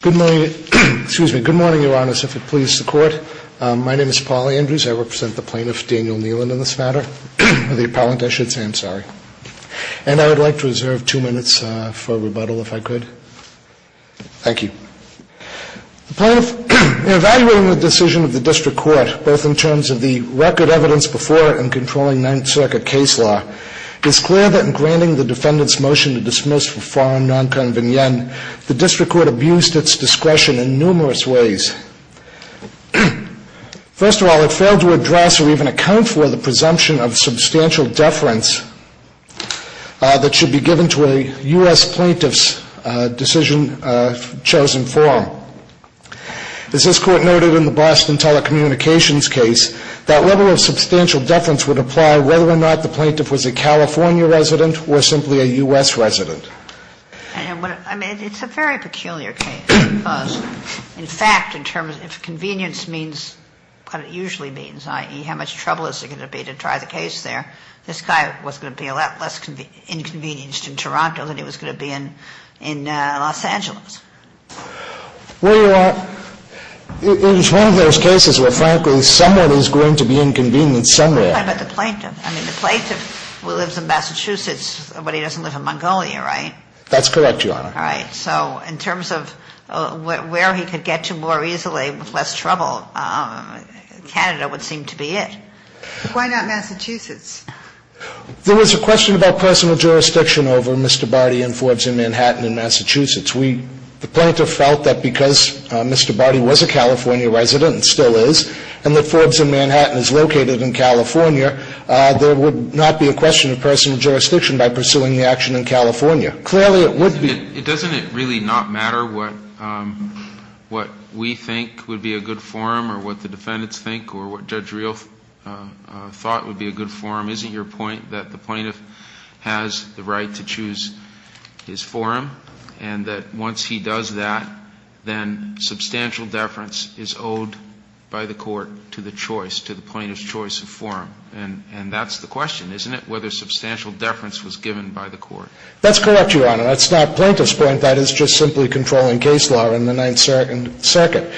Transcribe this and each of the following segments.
Good morning, excuse me, good morning, your honors, if it pleases the court. My name is Paul Andrews, I represent the plaintiff, Daniel Neelon, in this matter, or the appellant, I should say, I'm sorry. And I would like to reserve two minutes for rebuttal if I could. Thank you. The plaintiff, in evaluating the decision of the district court, both in terms of the record evidence before and controlling Ninth Circuit case law, is clear that in granting the defendant's motion to dismiss for foreign nonconvenient, the district court abused its discretion in numerous ways. First of all, it failed to address or even account for the presumption of substantial deference that should be given to a U.S. plaintiff's decision, chosen form. As this court noted in the Boston Telecommunications case, that level of substantial deference would apply whether or not the plaintiff was a California resident or simply a U.S. resident. And what, I mean, it's a very peculiar case. Because, in fact, in terms, if convenience means what it usually means, i.e., how much trouble is there going to be to try the case there, this guy was going to be a lot less inconvenienced in Toronto than he was going to be in Los Angeles. Well, it is one of those cases where, frankly, someone is going to be inconvenienced somewhere. But the plaintiff, I mean, the plaintiff lives in Massachusetts, but he doesn't live in Mongolia, right? That's correct, Your Honor. All right. So in terms of where he could get to more easily with less trouble, Canada would seem to be it. Why not Massachusetts? There was a question about personal jurisdiction over Mr. Barty and Forbes in Manhattan and Massachusetts. We, the plaintiff felt that because Mr. Barty was a California resident, and still is, and that Forbes in Manhattan is located in California, there would not be a question of personal jurisdiction by pursuing the action in California. Clearly, it would be. Doesn't it really not matter what we think would be a good forum or what the defendants think or what Judge Real thought would be a good forum? Isn't your point that the plaintiff has the right to choose his forum and that once he does that, then substantial deference is owed by the court to the choice, to the plaintiff's choice of forum? And that's the question, isn't it, whether substantial deference was given by the court? That's correct, Your Honor. That's not plaintiff's point. That is just simply controlling case law in the Ninth Circuit.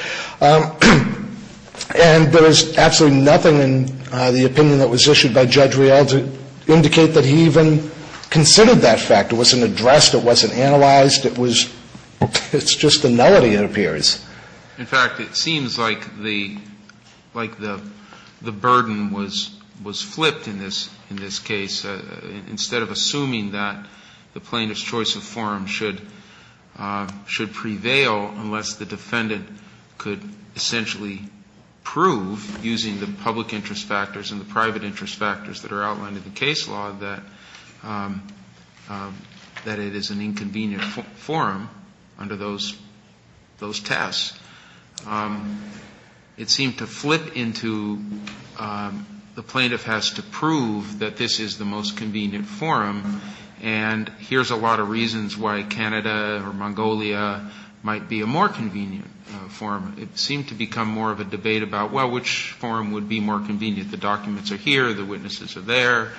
And there is absolutely nothing in the opinion that was issued by Judge Real to indicate that he even considered that fact. It wasn't addressed. It wasn't analyzed. It was just a nullity, it appears. In fact, it seems like the burden was flipped in this case. Instead of assuming that the plaintiff's choice of forum should prevail unless the defendant could essentially prove, using the public interest factors and the private interest factors that are outlined in the case law, that it is an inconvenient forum under those tests. It seemed to flip into the plaintiff has to prove that this is the most convenient forum, and here's a lot of reasons why Canada or Mongolia might be a more convenient forum. It seemed to become more of a debate about, well, which forum would be more convenient? The documents are here, the witnesses are there,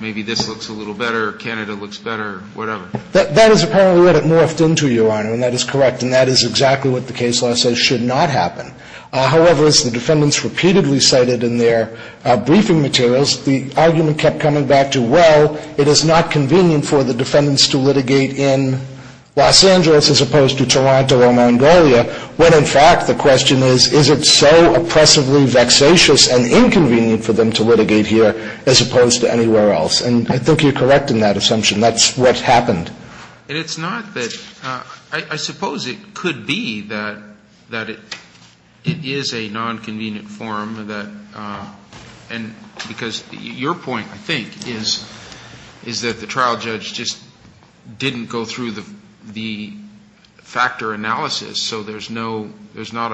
maybe this looks a little better, Canada looks better, whatever. That is apparently what it morphed into, Your Honor, and that is correct, and that is exactly what the case law says should not happen. However, as the defendants repeatedly cited in their briefing materials, the argument kept coming back to, well, it is not convenient for the defendants to litigate in Los Angeles as opposed to Toronto or Mongolia, when in fact the question is, is it so oppressively vexatious and inconvenient for them to litigate here as opposed to anywhere else? And I think you're correct in that assumption. That's what happened. And it's not that – I suppose it could be that it is a nonconvenient forum, and because your point, I think, is that the trial judge just didn't go through the factor analysis, so there's no – there's not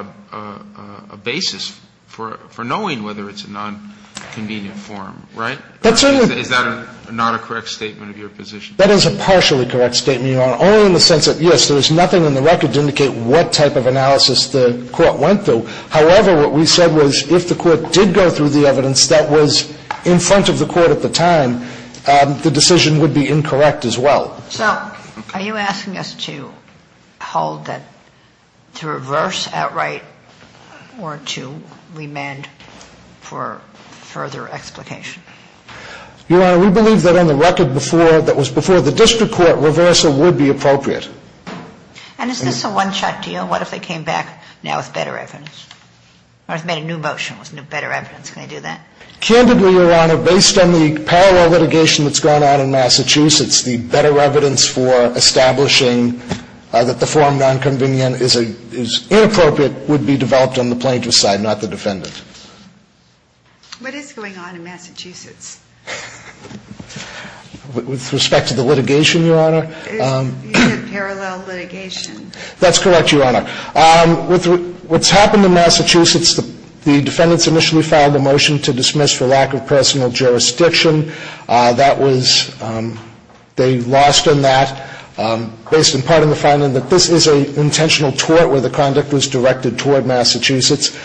a basis for knowing whether it's a nonconvenient forum, right? Is that not a correct statement of your position? That is a partially correct statement, Your Honor, only in the sense that, yes, there is nothing in the record to indicate what type of analysis the court went through. However, what we said was if the court did go through the evidence that was in front of the court at the time, the decision would be incorrect as well. So are you asking us to hold that – to reverse outright or to remand for further explication? Your Honor, we believe that on the record before – that was before the district court, reversal would be appropriate. And is this a one-shot deal? What if they came back now with better evidence, or if they made a new motion with better evidence? Can they do that? Candidly, Your Honor, based on the parallel litigation that's gone on in Massachusetts, the better evidence for establishing that the forum nonconvenient is inappropriate would be developed on the plaintiff's side, not the defendant. What is going on in Massachusetts? With respect to the litigation, Your Honor? Parallel litigation. That's correct, Your Honor. With what's happened in Massachusetts, the defendants initially filed a motion to dismiss for lack of personal jurisdiction. That was – they lost on that based in part on the finding that this is an intentional tort where the conduct was directed toward Massachusetts.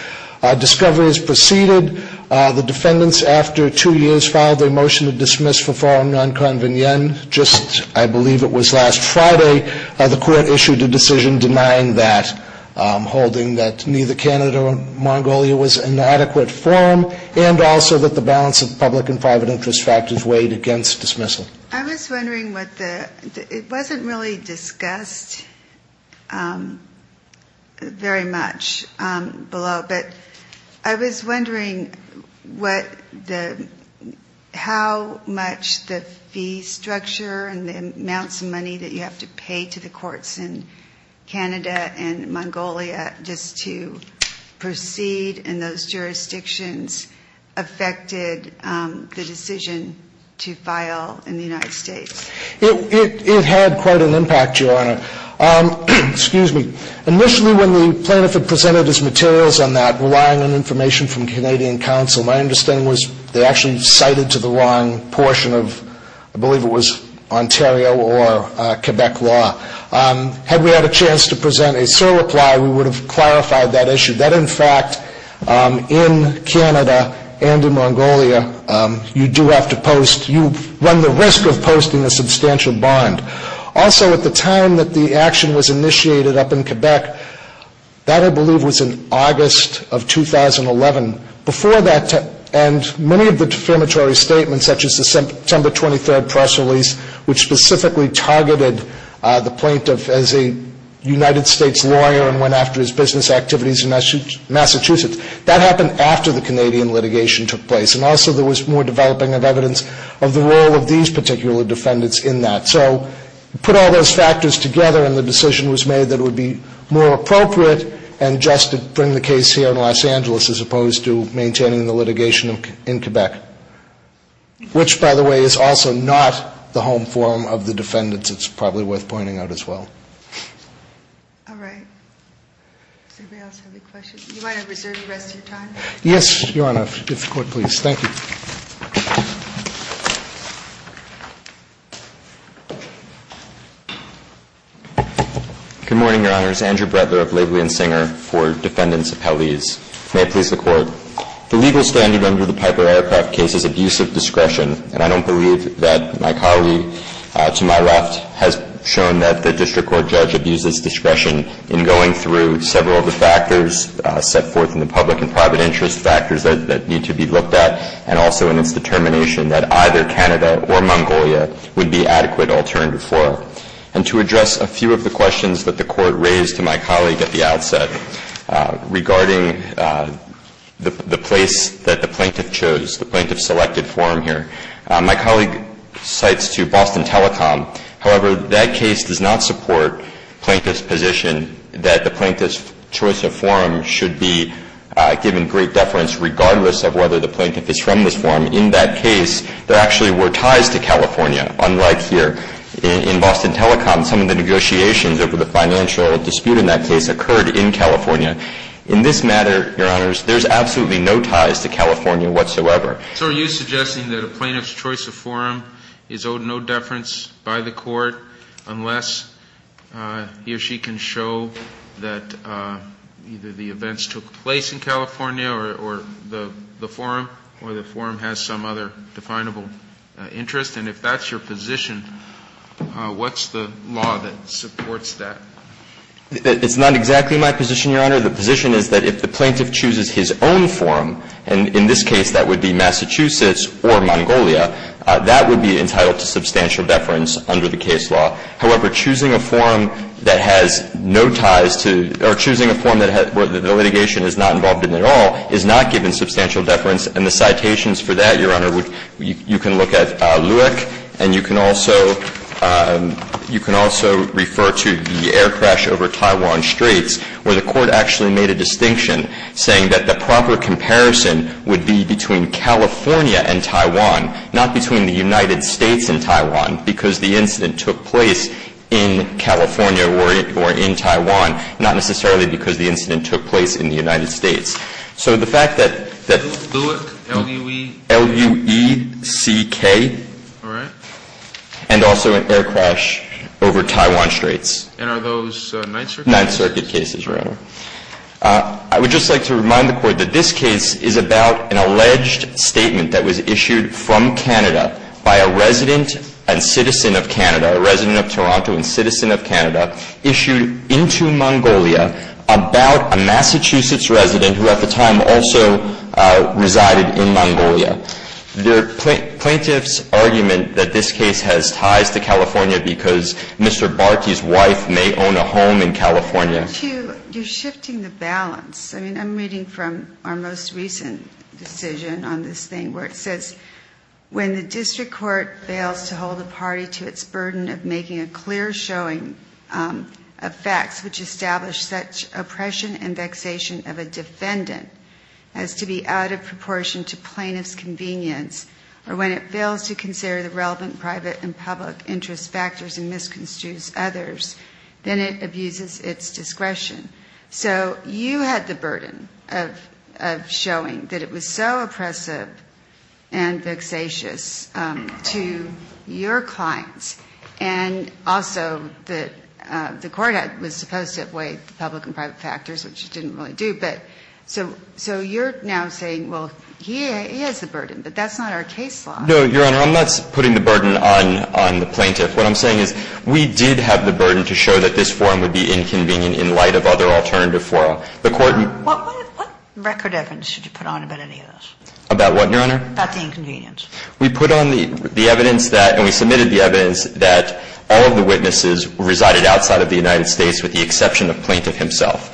Discovery has proceeded. The defendants, after two years, filed a motion to dismiss for forum nonconvenient. Just, I believe it was last Friday, the court issued a decision denying that, holding that neither Canada or Mongolia was an adequate forum and also that the balance of public and private interest factors weighed against dismissal. I was wondering what the – it wasn't really discussed very much below, but I was wondering what the – how much the fee structure and the amounts of money that you have to pay to the courts in Canada and Mongolia just to proceed in those jurisdictions affected the decision to file in the United States? It had quite an impact, Your Honor. Excuse me. Initially, when the plaintiff had presented his materials on that, relying on information from Canadian counsel, my understanding was they actually cited to the wrong portion of, I believe it was Ontario or Quebec law. Had we had a chance to present a surreply, we would have clarified that issue. That, in fact, in Canada and in Mongolia, you do have to post – you run the risk of posting a substantial bond. Also, at the time that the action was initiated up in Quebec, that, I believe, was in August of 2011. Before that – and many of the defamatory statements, such as the September 23 press release, which specifically targeted the plaintiff as a United States lawyer and went after his business activities in Massachusetts, that happened after the Canadian litigation took place. And also, there was more developing of evidence of the role of these particular defendants in that. So, put all those factors together and the decision was made that it would be more appropriate and just to bring the case here in Los Angeles as opposed to maintaining the litigation in Quebec. Which, by the way, is also not the home forum of the defendants. It's probably worth pointing out as well. All right. Does anybody else have any questions? You might have reserved the rest of your time. Yes, Your Honor. If the court please. Thank you. Good morning, Your Honors. Andrew Brettler of Laidley and Singer for defendants' appellees. May it please the court. The legal standard under the Piper Aircraft case is abusive discretion. And I don't believe that my colleague to my left has shown that the district court judge abuses discretion in going through several of the factors set forth in the public and private interest factors that need to be looked at and also in its determination that either Canada or Mongolia would be adequate alternative for. And to address a few of the questions that the court raised to my colleague at the outset regarding the place that the plaintiff chose, the plaintiff selected forum here. My colleague cites to Boston Telecom. However, that case does not support plaintiff's position that the plaintiff's choice of forum should be given great deference regardless of whether the plaintiff is from this forum. In that case, there actually were ties to California, unlike here. In Boston Telecom, some of the negotiations over the financial dispute in that case occurred in California. In this matter, Your Honors, there's absolutely no ties to California whatsoever. So are you suggesting that a plaintiff's choice of forum is owed no deference by the court unless he or she can show that either the events took place in California or the forum or the forum has some other definable interest? And if that's your position, what's the law that supports that? It's not exactly my position, Your Honor. The position is that if the plaintiff chooses his own forum, and in this case that would be Massachusetts or Mongolia, that would be entitled to substantial deference under the case law. However, choosing a forum that has no ties to or choosing a forum that the litigation is not involved in at all is not given substantial deference. And the citations for that, Your Honor, you can look at Lueck and you can also refer to the air crash over Taiwan Straits where the court actually made a distinction saying that the proper comparison would be between California and Taiwan not between the United States and Taiwan because the incident took place in California or in Taiwan not necessarily because the incident took place in the United States. So the fact that... Lueck, L-U-E... L-U-E-C-K. All right. And also an air crash over Taiwan Straits. And are those Ninth Circuit cases? Ninth Circuit cases, Your Honor. I would just like to remind the Court that this case is about an alleged statement that was issued from Canada by a resident and citizen of Canada, a resident of Toronto and citizen of Canada issued into Mongolia about a Massachusetts resident who at the time also resided in Mongolia. The plaintiff's argument that this case has ties to California because Mr. Barty's wife may own a home in California... Hugh, you're shifting the balance. I mean, I'm reading from our most recent decision on this thing where it says, when the district court fails to hold a party to its burden of making a clear showing of facts which establish such oppression and vexation of a defendant as to be out of proportion to plaintiff's convenience or when it fails to consider the relevant private and public interest factors and misconstrues others, then it abuses its discretion. So you had the burden of showing that it was so oppressive and vexatious to your clients and also that the court was supposed to have weighed the public and private factors which it didn't really do. So you're now saying, well, he has the burden, but that's not our case law. No, Your Honor. I'm not putting the burden on the plaintiff. What I'm saying is we did have the burden to show that this forum would be inconvenient in light of other alternative forums. What record evidence did you put on about any of this? About what, Your Honor? About the inconvenience. We put on the evidence that, and we submitted the evidence that all of the witnesses resided outside of the United States with the exception of plaintiff himself.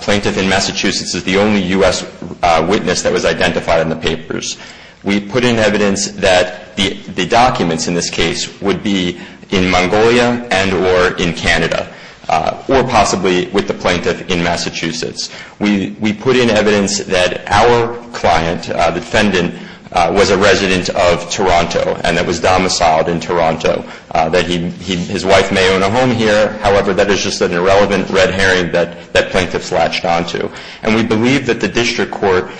Plaintiff in Massachusetts is the only U.S. witness that was identified in the papers. We put in evidence that the documents in this case would be in Mongolia and or in Canada or possibly with the plaintiff in Massachusetts. We put in evidence that our client, defendant, was a resident of Toronto and that was domiciled in Toronto, that his wife may own a home here. However, that is just an irrelevant red herring that plaintiffs latched onto. And we believe that the district court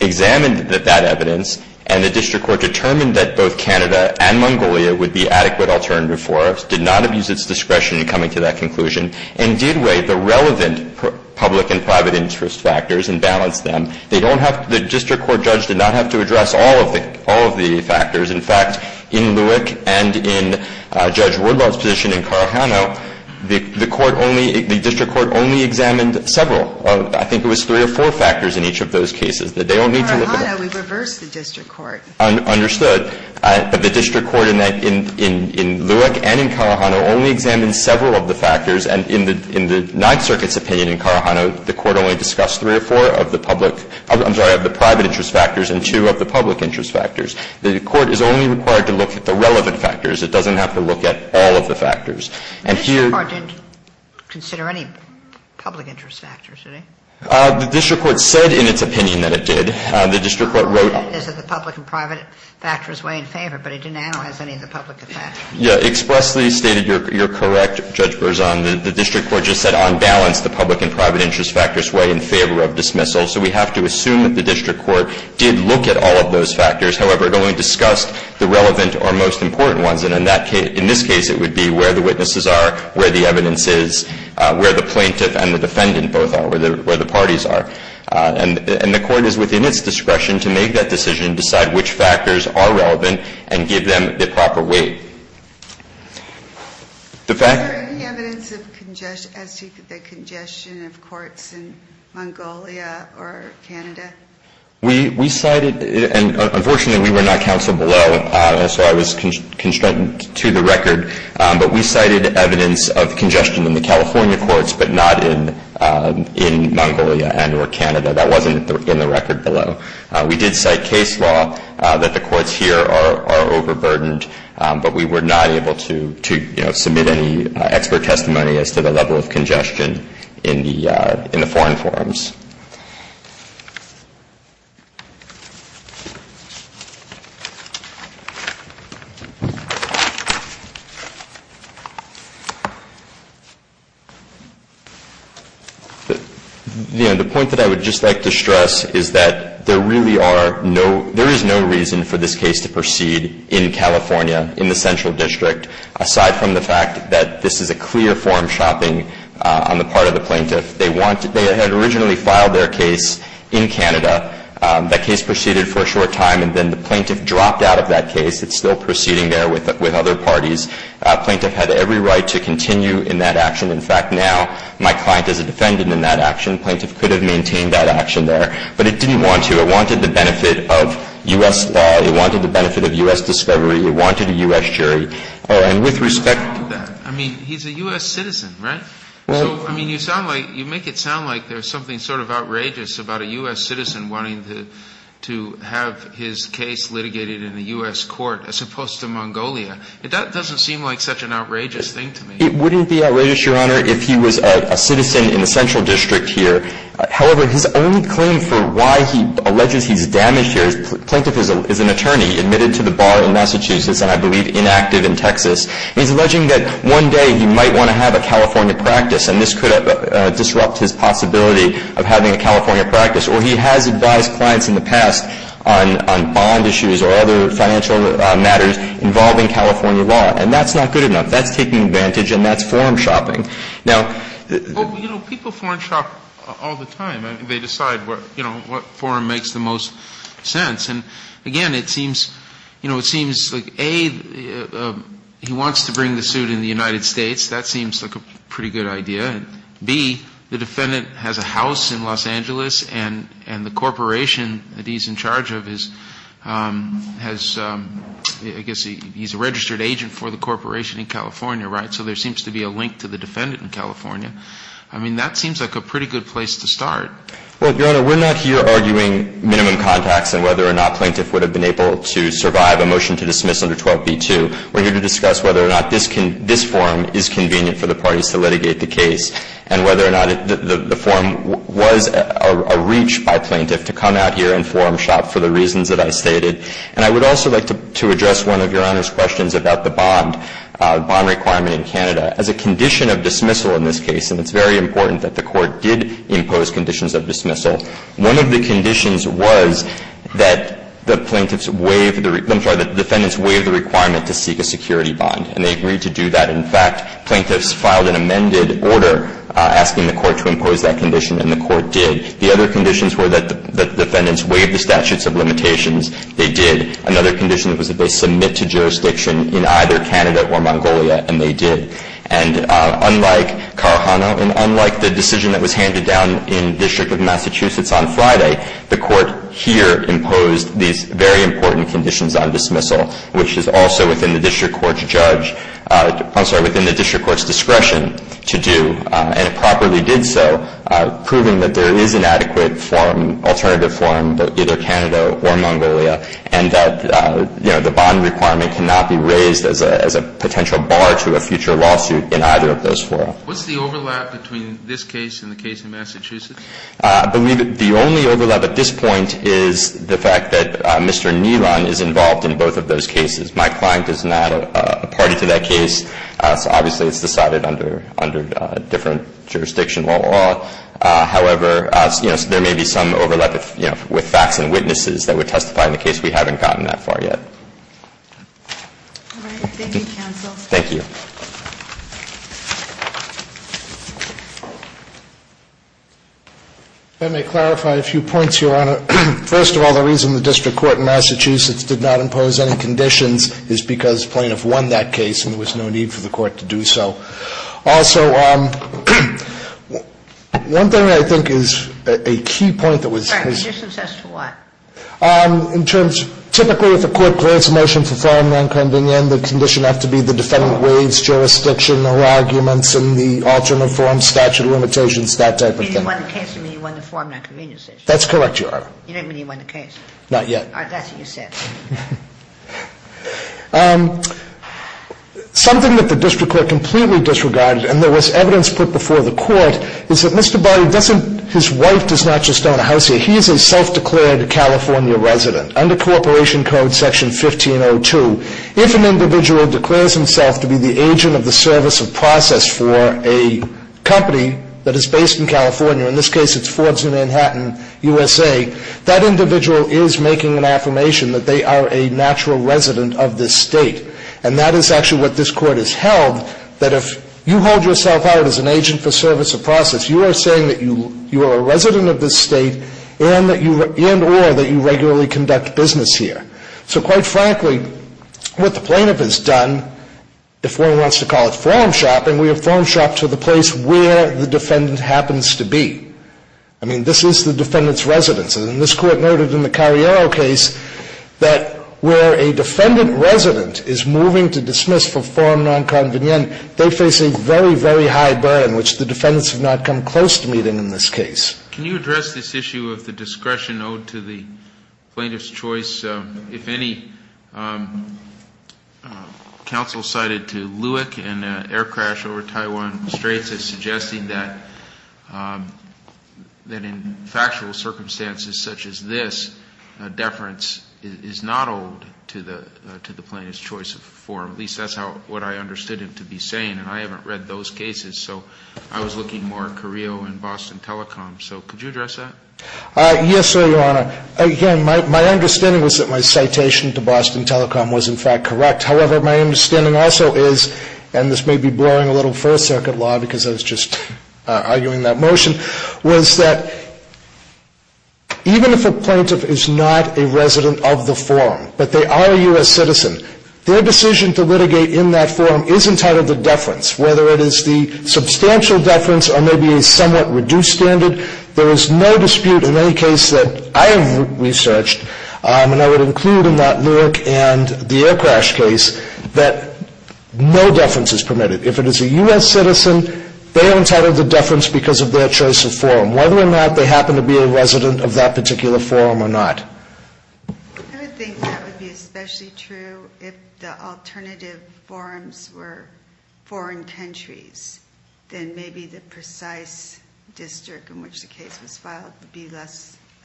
examined that evidence and the district court determined that both Canada and Mongolia would be adequate alternative forums, did not abuse its discretion in coming to that conclusion, and did weigh the relevant public and private interest factors and balance them. They don't have, the district court judge did not have to address all of the factors. In fact, in Lueck and in Judge Wardlaw's position in Carajano, the court only, the district court only examined several. I think it was three or four factors in each of those cases that they don't need to look at. In Carajano, we reversed the district court. Understood. The district court in Lueck and in Carajano only examined several of the factors and in the Ninth Circuit's opinion in Carajano, the court only discussed three or four of the public, I'm sorry, of the private interest factors and two of the public interest factors. The court is only required to look at the relevant factors. It doesn't have to look at all of the factors. And here The district court didn't consider any public interest factors, did it? The district court said in its opinion that it did. The district court wrote The public and private factors weigh in favor, but it didn't analyze any of the public factors. Yeah. Expressly stated, you're correct, Judge Berzon. The district court just said on balance the public and private interest factors weigh in favor of dismissal. So we have to assume that the district court did look at all of those factors. However, it only discussed the relevant or most important ones. And in this case it would be where the witnesses are, where the evidence is, where the plaintiff and the defendant both are, where the parties are. And the court is within its discretion to make that decision and decide which factors are relevant and give them the proper weight. The fact Is there any evidence of congestion as to the congestion of courts in Mongolia or Canada? We cited and unfortunately we were not counseled below so I was constrained to the record but we cited evidence of congestion in the California courts but not in Mongolia and or Canada. That wasn't in the record below. We did cite case law that the courts here are overburdened but we were not able to submit any expert testimony as to the level of congestion in the foreign forums. The point that I would just like to stress is that there really are no, there is no reason for this case to proceed in California in the central the fact that this is a clear forum shopping on the part of the plaintiff. They want, they had originally thought that this was a clear of the plaintiff and they filed their case in Canada. That case proceeded for a short time and then the plaintiff dropped out of that case. It's still proceeding there with other parties. The plaintiff had every right to continue in that action. In fact, now my client is trying to maintain that action there. But it didn't want to. It wanted the benefit of U.S. law. It wanted the benefit of U.S. discovery. a U.S. jury. And with respect to that, I mean, he's a U.S. citizen, right? So, I mean, you make it sound like there's something sort of outrageous about a U.S. citizen wanting to have his case litigated in a U.S. court as opposed to Mongolia. That doesn't seem like such an outrageous thing to me. It wouldn't be outrageous if he was a citizen in the Central District here. However, his only claim for why he alleges he's damaged here is Plaintiff is an attorney admitted to the bar in Massachusetts and I believe inactive in Texas. He's alleging that one day he might want to have a California practice and this could disrupt his possibility of having a California practice or he has advised clients in the past on bond issues or other financial matters involving California law. And that's not good enough. That's taking advantage and that's forum shopping. People forum shop all the time. They decide what forum makes the most sense. Again, it seems like A, he wants to bring the suit in the United States. a part of the case. We're not arguing whether plaintiff would've been able to survive a motion to dismiss under 12b two. We're here to discuss whether or not this forum convenient for the parties to litigate the case and whether or not the forum was a reach by plaintiff to come out here and forum shop for the court to do that. And they agreed to do that. In fact, plaintiffs filed an amended order asking the court to impose that condition and the court did. The other conditions were that the defendants waived the statutes of limitations. They did. Another condition was that the plaintiffs were within the district court's discretion to do and it properly did so proving that there is an adequate alternative forum in either Canada or Mongolia and that the did that. The only overlap at this point is the fact that Mr. Nilan is involved in both of those cases. My client is not a party to that case. Obviously, it's decided under different jurisdiction law. However, there may be some overlap with facts and overlap. I would like to make a few points, Your Honor. First of all, the reason the district court in Massachusetts did not impose any conditions is because plaintiff won that case and there was no need for the district impose conditions. That's correct, Your Honor. You didn't mean he won the case. That's what you said. Something that the district court completely disregarded and there was evidence put before the court is that Mr. Barry, his wife does not just own a house here, he is a self-declared California resident. Under corporation code section 1502, if an individual declares himself to be the agent of the service of process for a company that is not Mr. Barry, you are saying that you are a resident of this state and or that you regularly conduct business here. So quite frankly, what the plaintiff has done if one wants to call it forum shopping, we have forum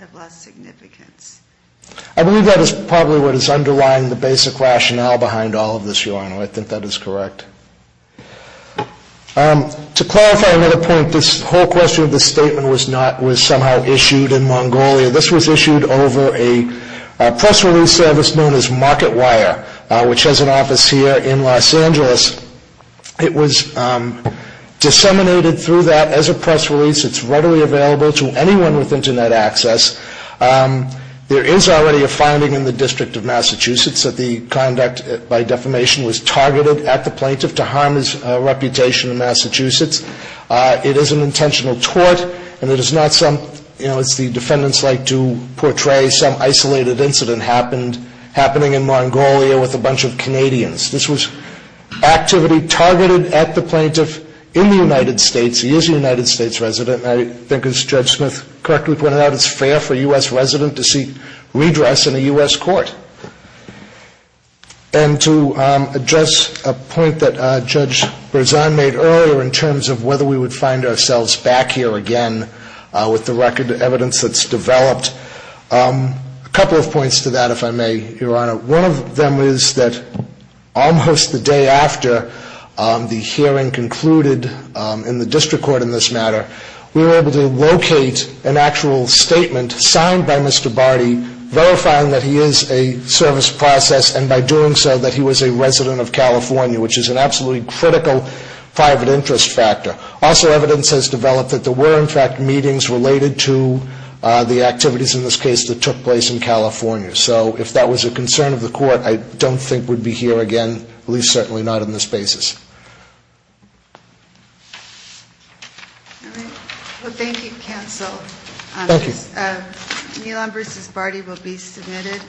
shopping. To clarify another point, this whole question of this statement was somehow issued in Mongolia. This was issued over a press release service known as Market Wire, which has an office here in Los Angeles. It was disseminated through that as a press release. It is readily available to anyone with Internet access. There is already a finding in the District of Massachusetts that the conduct by defamation was targeted at the plaintiff to harm his reputation in Massachusetts. It is an intentional tort and it is not some, you know, it's the defendants like to portray some the plaintiff. And Judge Smith correctly it's fair for a U.S. resident to seek redress in a U.S. court. And to address a point that Judge Berzan made earlier in terms of whether we would find ourselves back here again with the record that's developed. A couple of points to that if I may, Your Honor. One of them is that almost the day after the hearing concluded in the District Court in this matter, we were able to locate an actual statement signed by Mr. Barty verifying that he is a service process and by doing so that he was a resident of California which is an absolutely critical private interest factor. Also evidence has developed that there were in fact meetings related to the activities in this case that took place in California. So if that was a concern of the court, I don't think we'd be here again, at least certainly not on this basis. All right. Well, thank you, counsel. Thank you. Nilan versus Barty will be submitted.